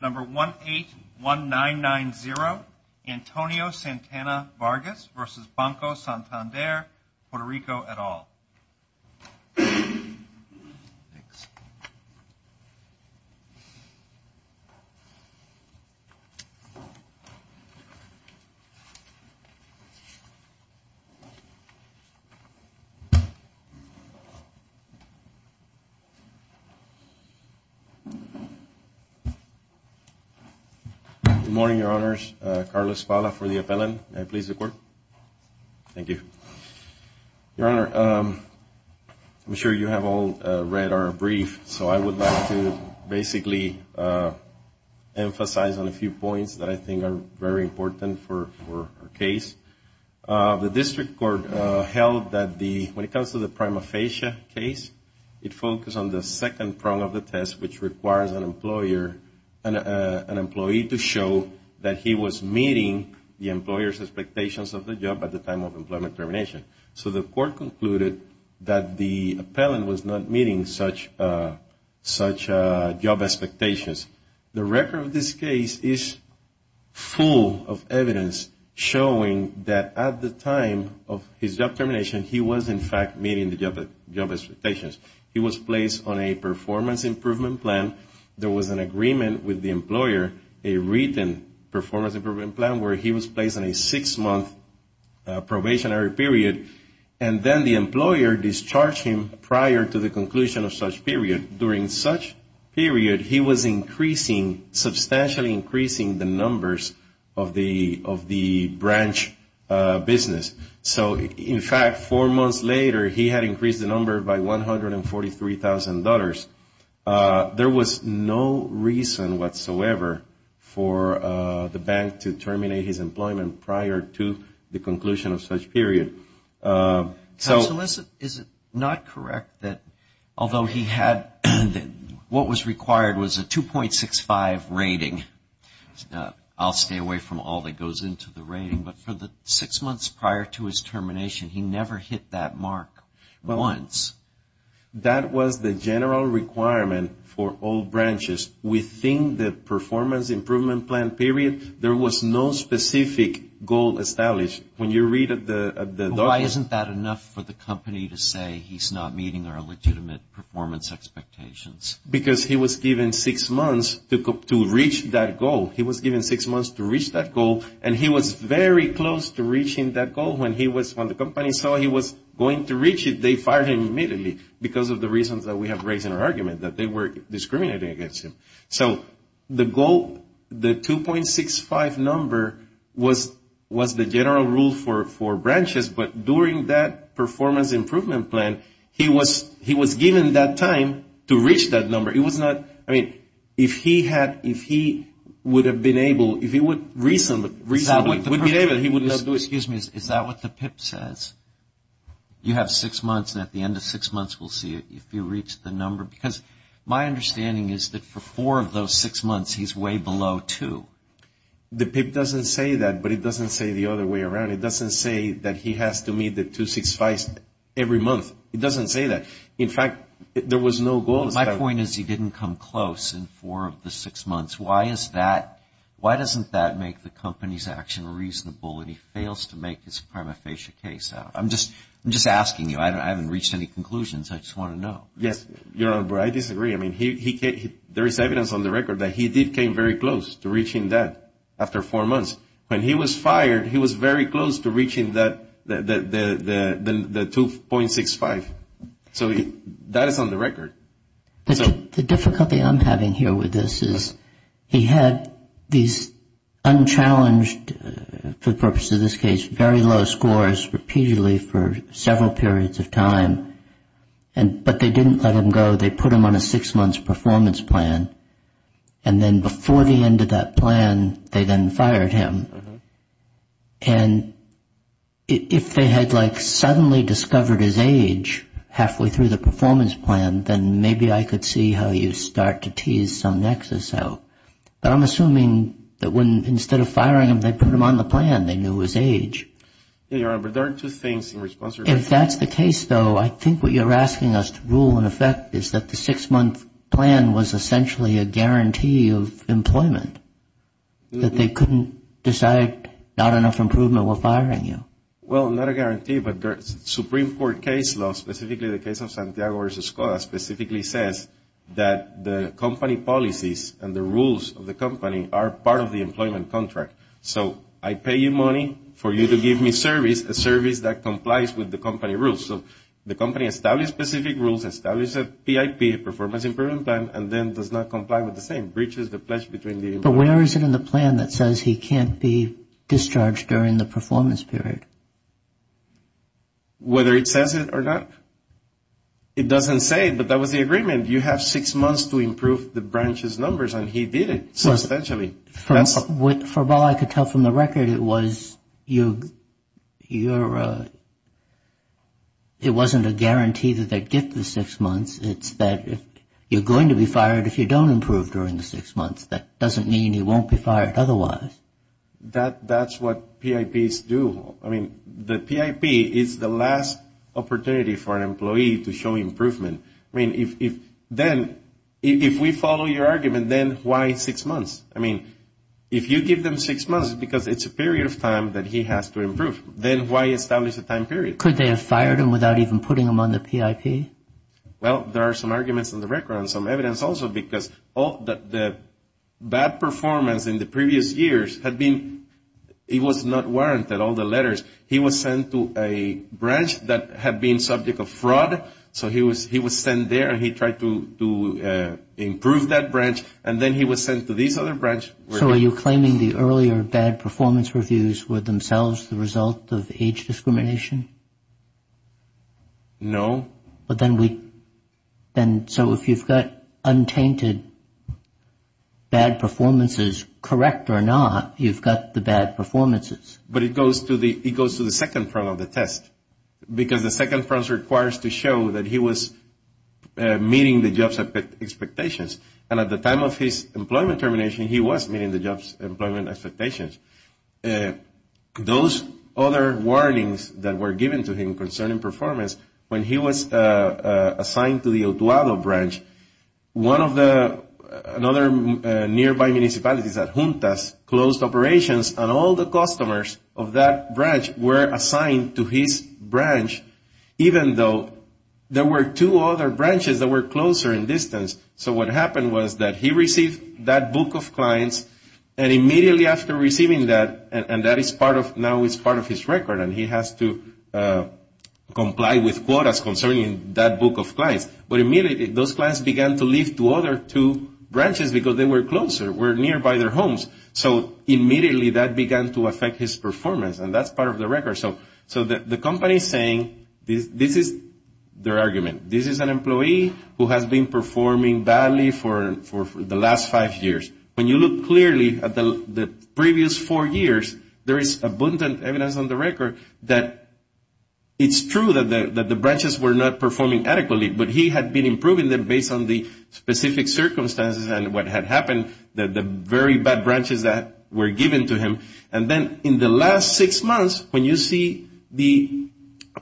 Number 181990 Antonio Santana-Vargas v. Banco Santander Puerto Rico et al. Good morning, Your Honors. Carlos Valla for the appellant. May I please record? Thank you. Your Honor, I'm sure you have all read our brief, so I would like to basically emphasize on a few points that I think are very important for our case. The district court held that the, when it comes to the prima facie case, it focused on the second prong of the test, which requires an employer, an employee to show that he was meeting the employer's expectations of the job at the time of employment termination. So the court concluded that the appellant was not meeting such job expectations. The record of this case is full of evidence showing that at the time of his job termination, he was in fact meeting the job expectations. He was placed on a performance improvement plan. There was an agreement with the employer, a written performance improvement plan, where he was placed on a six-month probationary period, and then the employer discharged him prior to the conclusion of such period. During such period, he was increasing, substantially increasing the numbers of the branch business. So in fact, four months later, he had increased the number by $143,000. There was no reason whatsoever for the bank to terminate his employment prior to the conclusion of such period. Counsel, is it not correct that although he had, what was required was a 2.65 rating? I'll stay away from all that goes into the rating, but for the six months prior to his termination, he never hit that mark once. That was the general requirement for all branches. Within the performance improvement plan period, there was no specific goal established. Why isn't that enough for the company to say he's not meeting our legitimate performance expectations? Because he was given six months to reach that goal. He was given six months to reach that goal, and he was very close to reaching that goal. When the company saw he was going to reach it, they fired him immediately because of the reasons that we have raised in our argument, that they were discriminating against him. So the goal, the 2.65 number was the general rule for branches, but during that performance improvement plan, he was given that time to reach that number. It was not, I mean, if he had, if he would have been able, if he would reasonably be able, he would not do it. Excuse me. Is that what the PIP says? You have six months, and at the end of six months, we'll see if you reach the number? Because my understanding is that for four of those six months, he's way below two. The PIP doesn't say that, but it doesn't say the other way around. It doesn't say that he has to meet the 2.65 every month. It doesn't say that. In fact, there was no goal. My point is he didn't come close in four of the six months. Why is that? Why doesn't that make the company's action reasonable when he fails to make his prima facie case out? I'm just asking you. I haven't reached any conclusions. I just want to know. Yes, Your Honor, I disagree. I mean, there is evidence on the record that he did come very close to reaching that after four months. When he was fired, he was very close to reaching the 2.65. So that is on the record. The difficulty I'm having here with this is he had these unchallenged, for the purpose of this case, very low scores repeatedly for several periods of time. But they didn't let him go. They put him on a six-month performance plan. And then before the end of that plan, they then fired him. And if they had suddenly discovered his age halfway through the performance plan, then maybe I could see how you start to tease some nexus out. But I'm assuming that instead of firing him, they put him on the plan. They knew his age. Yes, Your Honor, but there are two things in response to your question. If that's the case, though, I think what you're asking us to rule in effect is that the six-month plan was essentially a guarantee of employment, that they couldn't decide not enough improvement while firing you. Well, not a guarantee, but Supreme Court case law, specifically the case of Santiago v. are part of the employment contract. So I pay you money for you to give me service, a service that complies with the company rules. So the company establishes specific rules, establishes a PIP, a performance improvement plan, and then does not comply with the same, breaches the pledge between the employees. But where is it in the plan that says he can't be discharged during the performance period? Whether it says it or not, it doesn't say it, but that was the agreement. You have six months to improve the branch's numbers, and he did it substantially. From all I could tell from the record, it wasn't a guarantee that they'd get the six months. It's that you're going to be fired if you don't improve during the six months. That doesn't mean you won't be fired otherwise. That's what PIPs do. I mean, the PIP is the last opportunity for an employee to show improvement. I mean, if then, if we follow your argument, then why six months? I mean, if you give them six months because it's a period of time that he has to improve, then why establish a time period? Could they have fired him without even putting him on the PIP? Well, there are some arguments in the record and some evidence also because the bad performance in the previous years had been, it was not warranted, all the letters. He was sent to a branch that had been subject of fraud, so he was sent there and he tried to improve that branch, and then he was sent to this other branch. So are you claiming the earlier bad performance reviews were themselves the result of age discrimination? No. But then we, so if you've got untainted bad performances, correct or not, you've got the bad performances. But it goes to the second front of the test, because the second front requires to show that he was meeting the job's expectations. And at the time of his employment termination, he was meeting the job's employment expectations. Those other warnings that were given to him concerning performance, when he was assigned to the Otuado branch, one of the, another nearby municipality, it's at Juntas, closed operations, and all the customers of that branch were assigned to his branch, even though there were two other branches that were closer in distance. So what happened was that he received that book of clients, and immediately after receiving that, and that is part of, now it's part of his record, and he has to comply with quotas concerning that book of clients. But immediately those clients began to leave to other two branches because they were closer, were nearby their homes. So immediately that began to affect his performance, and that's part of the record. So the company is saying, this is their argument, this is an employee who has been performing badly for the last five years. When you look clearly at the previous four years, there is abundant evidence on the record that it's true that the branches were not performing adequately, but he had been improving them based on the specific circumstances and what had happened, the very bad branches that were given to him. And then in the last six months, when you see the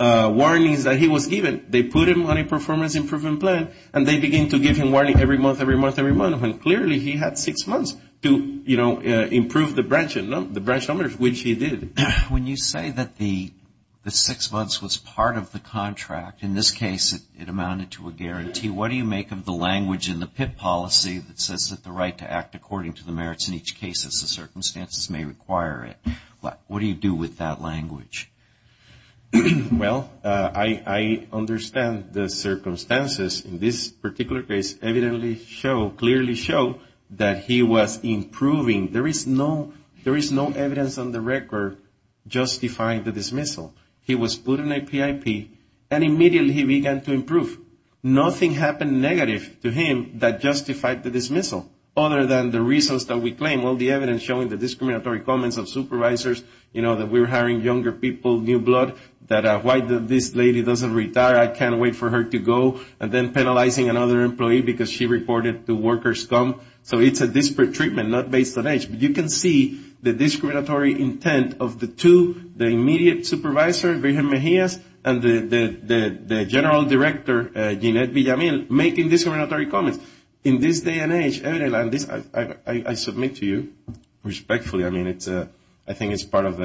warnings that he was given, they put him on a performance improvement plan, and they began to give him warnings every month, every month, every month, and clearly he had six months to, you know, improve the branches, the branch numbers, which he did. When you say that the six months was part of the contract, in this case it amounted to a guarantee, what do you make of the language in the PIP policy that says that the right to act according to the merits in each case as the circumstances may require it? What do you do with that language? Well, I understand the circumstances in this particular case clearly show that he was improving. There is no evidence on the record justifying the dismissal. He was put on a PIP, and immediately he began to improve. Nothing happened negative to him that justified the dismissal, other than the reasons that we claim. Well, the evidence showing the discriminatory comments of supervisors, you know, that we're hiring younger people, new blood, that why this lady doesn't retire, I can't wait for her to go, and then penalizing another employee because she reported the worker scum. So it's a disparate treatment, not based on age. But you can see the discriminatory intent of the two, the immediate supervisor, and the general director, Jeanette Villamil, making discriminatory comments. In this day and age, and I submit to you respectfully, I mean, I think it's part of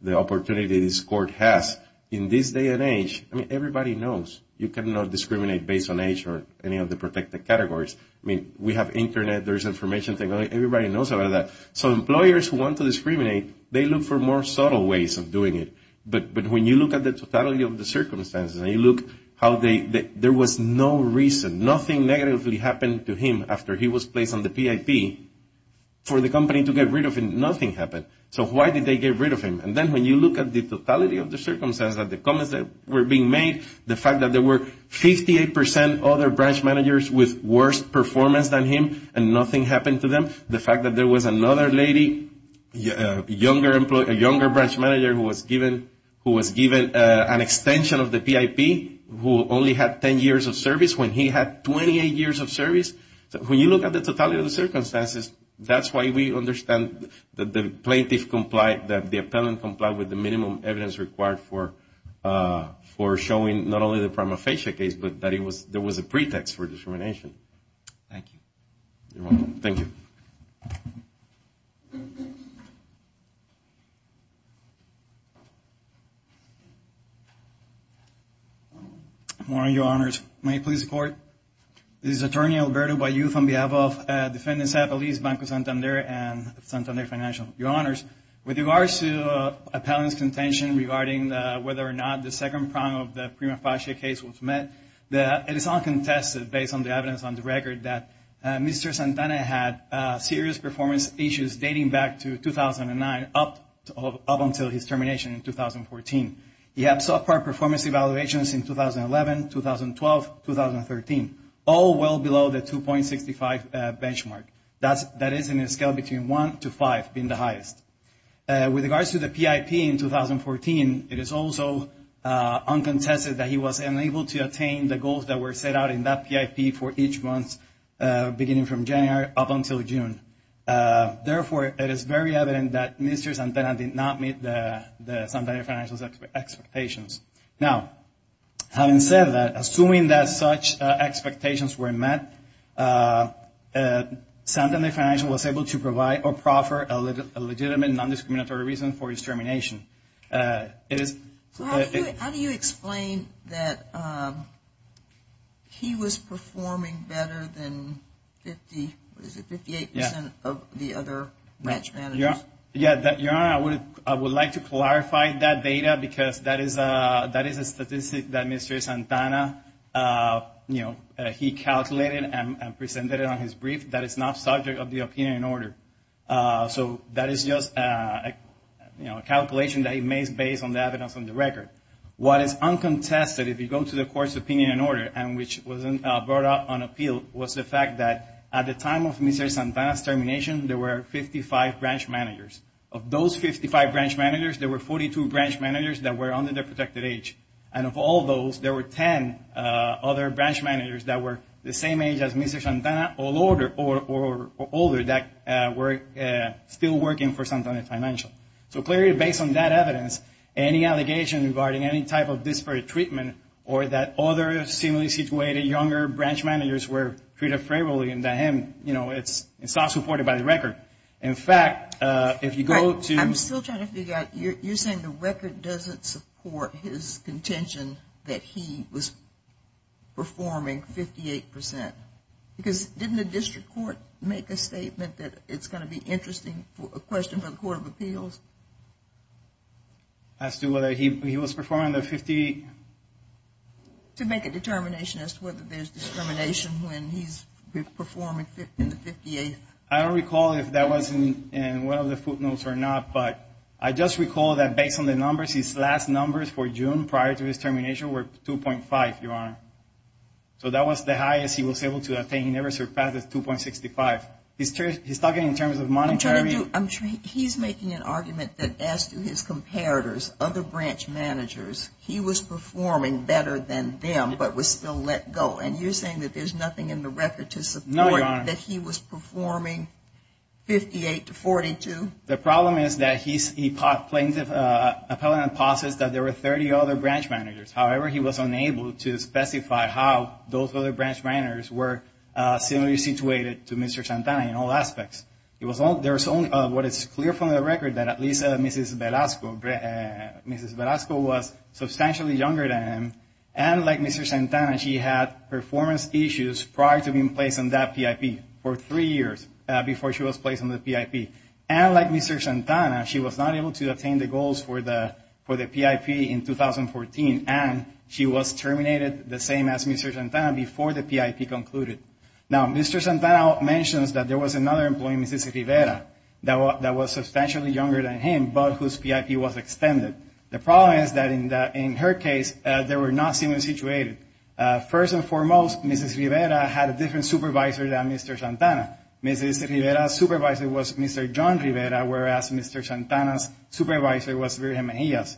the opportunity this court has. In this day and age, I mean, everybody knows you cannot discriminate based on age or any of the protected categories. I mean, we have Internet, there's information, everybody knows about that. So employers who want to discriminate, they look for more subtle ways of doing it. But when you look at the totality of the circumstances, and you look how there was no reason, nothing negatively happened to him after he was placed on the PIP, for the company to get rid of him, nothing happened. So why did they get rid of him? And then when you look at the totality of the circumstances, at the comments that were being made, the fact that there were 58% other branch managers with worse performance than him, and nothing happened to them, the fact that there was another lady, a younger branch manager who was given an extension of the PIP, who only had 10 years of service when he had 28 years of service. When you look at the totality of the circumstances, that's why we understand that the plaintiff complied, that the appellant complied with the minimum evidence required for showing not only the prima facie case, Thank you. Good morning, Your Honors. May I please report? This is Attorney Alberto Bayou on behalf of Defendants' Appellees Banco Santander and Santander Financial. Your Honors, with regards to appellant's contention regarding whether or not the second prong of the prima facie case was met, it is uncontested based on the evidence on the record that Mr. Santander had serious performance issues dating back to 2009 up until his termination in 2014. He had subpar performance evaluations in 2011, 2012, 2013, all well below the 2.65 benchmark. That is in a scale between one to five being the highest. With regards to the PIP in 2014, it is also uncontested that he was unable to attain the goals that were set out in that PIP for each month beginning from January up until June. Therefore, it is very evident that Mr. Santander did not meet the Santander Financial's expectations. Now, having said that, assuming that such expectations were met, Santander Financial was able to provide or proffer a legitimate non-discriminatory reason for his termination. How do you explain that he was performing better than 58% of the other branch managers? Your Honor, I would like to clarify that data because that is a statistic that Mr. Santander, you know, he calculated and presented it on his brief that is not subject of the opinion and order. So that is just a calculation that he made based on the evidence on the record. What is uncontested, if you go to the court's opinion and order, and which was brought up on appeal, was the fact that at the time of Mr. Santander's termination, there were 55 branch managers. Of those 55 branch managers, there were 42 branch managers that were under the protected age. And of all those, there were 10 other branch managers that were the same age as Mr. Santander or older that were still working for Santander Financial. So clearly, based on that evidence, any allegation regarding any type of disparate treatment or that other similarly situated younger branch managers were treated favorably and that him, you know, it is not supported by the record. In fact, if you go to... that he was performing 58%. Because didn't the district court make a statement that it is going to be interesting, a question for the Court of Appeals? As to whether he was performing under 58? To make a determination as to whether there is discrimination when he is performing in the 58th. I don't recall if that was in one of the footnotes or not, but I just recall that based on the numbers, his last numbers for June prior to his termination were 2.5, Your Honor. So that was the highest he was able to attain. He never surpassed 2.65. He is talking in terms of monetary... He is making an argument that as to his comparators, other branch managers, he was performing better than them, but was still let go. And you are saying that there is nothing in the record to support that he was performing 58 to 42? The problem is that his plaintiff appellant posits that there were 30 other branch managers. However, he was unable to specify how those other branch managers were similarly situated to Mr. Santana in all aspects. There is only what is clear from the record that at least Mrs. Velasco was substantially younger than him, and like Mr. Santana, she had performance issues prior to being placed on that PIP for three years before she was placed on the PIP. And like Mr. Santana, she was not able to attain the goals for the PIP in 2014, and she was terminated the same as Mr. Santana before the PIP concluded. Now, Mr. Santana mentions that there was another employee, Mrs. Rivera, that was substantially younger than him, but whose PIP was extended. The problem is that in her case, they were not similarly situated. First and foremost, Mrs. Rivera had a different supervisor than Mr. Santana. Mrs. Rivera's supervisor was Mr. John Rivera, whereas Mr. Santana's supervisor was William Mejias.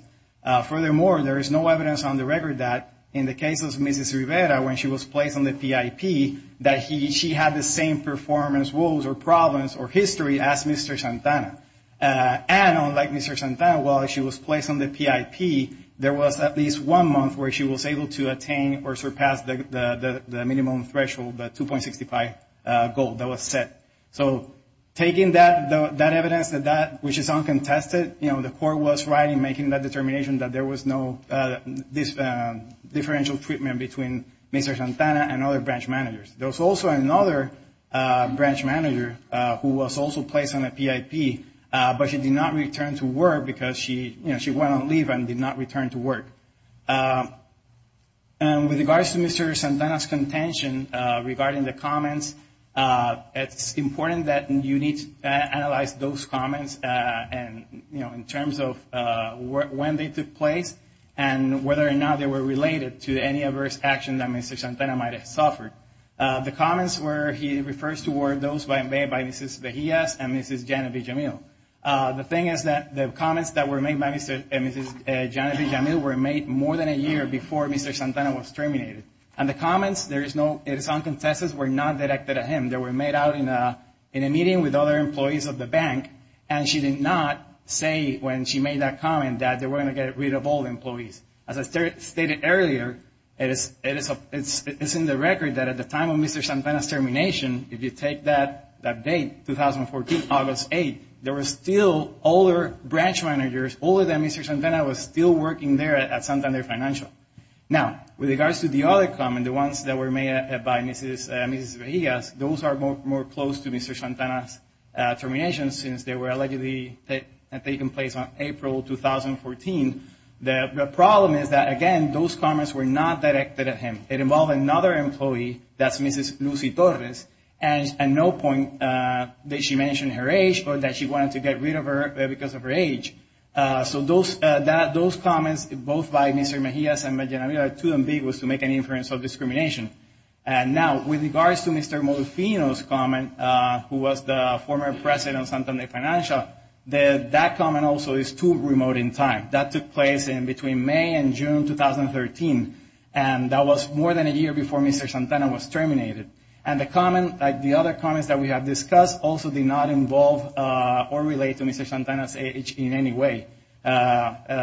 Furthermore, there is no evidence on the record that in the case of Mrs. Rivera, when she was placed on the PIP, that she had the same performance woes or problems or history as Mr. Santana. And unlike Mr. Santana, while she was placed on the PIP, there was at least one month where she was able to attain or surpass the minimum threshold, the 2.65 goal that was set. So taking that evidence, which is uncontested, the court was right in making that determination that there was no differential treatment between Mr. Santana and other branch managers. There was also another branch manager who was also placed on the PIP, but she did not return to work because she went on leave and did not return to work. And with regards to Mr. Santana's contention regarding the comments, it's important that you need to analyze those comments in terms of when they took place and whether or not they were related to any adverse action that Mr. Santana might have suffered. The comments where he refers to were those made by Mrs. Mejias and Mrs. Genevieve Jamil. The thing is that the comments that were made by Mr. and Mrs. Genevieve Jamil were made more than a year before Mr. Santana was terminated. And the comments, there is no, it is uncontested, were not directed at him. They were made out in a meeting with other employees of the bank, and she did not say when she made that comment that they were going to get rid of all employees. As I stated earlier, it is in the record that at the time of Mr. Santana's termination, if you take that date, 2014, August 8, there were still older branch managers, older than Mr. Santana was still working there at Santander Financial. Now, with regards to the other comment, the ones that were made by Mrs. Mejias, those are more close to Mr. Santana's termination since they were allegedly taken place on April 2014. The problem is that, again, those comments were not directed at him. It involved another employee, that's Mrs. Lucy Torres, and at no point did she mention her age or that she wanted to get rid of her because of her age. So those comments, both by Mr. Mejias and Mrs. Genevieve, are too ambiguous to make any inference of discrimination. And now, with regards to Mr. Modolfino's comment, who was the former president of Santander Financial, that comment also is too remote in time. That took place in between May and June 2013, and that was more than a year before Mr. Santana was terminated. And the other comments that we have discussed also did not involve or relate to Mr. Santana's age in any way.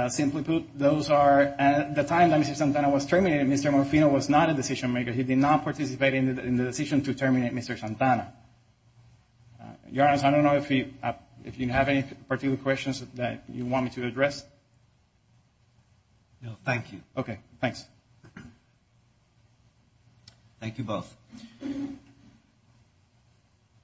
Simply put, at the time that Mr. Santana was terminated, Mr. Modolfino was not a decision maker. He did not participate in the decision to terminate Mr. Santana. Your Honor, I don't know if you have any particular questions that you want me to address. No, thank you. Okay, thanks. Thank you both.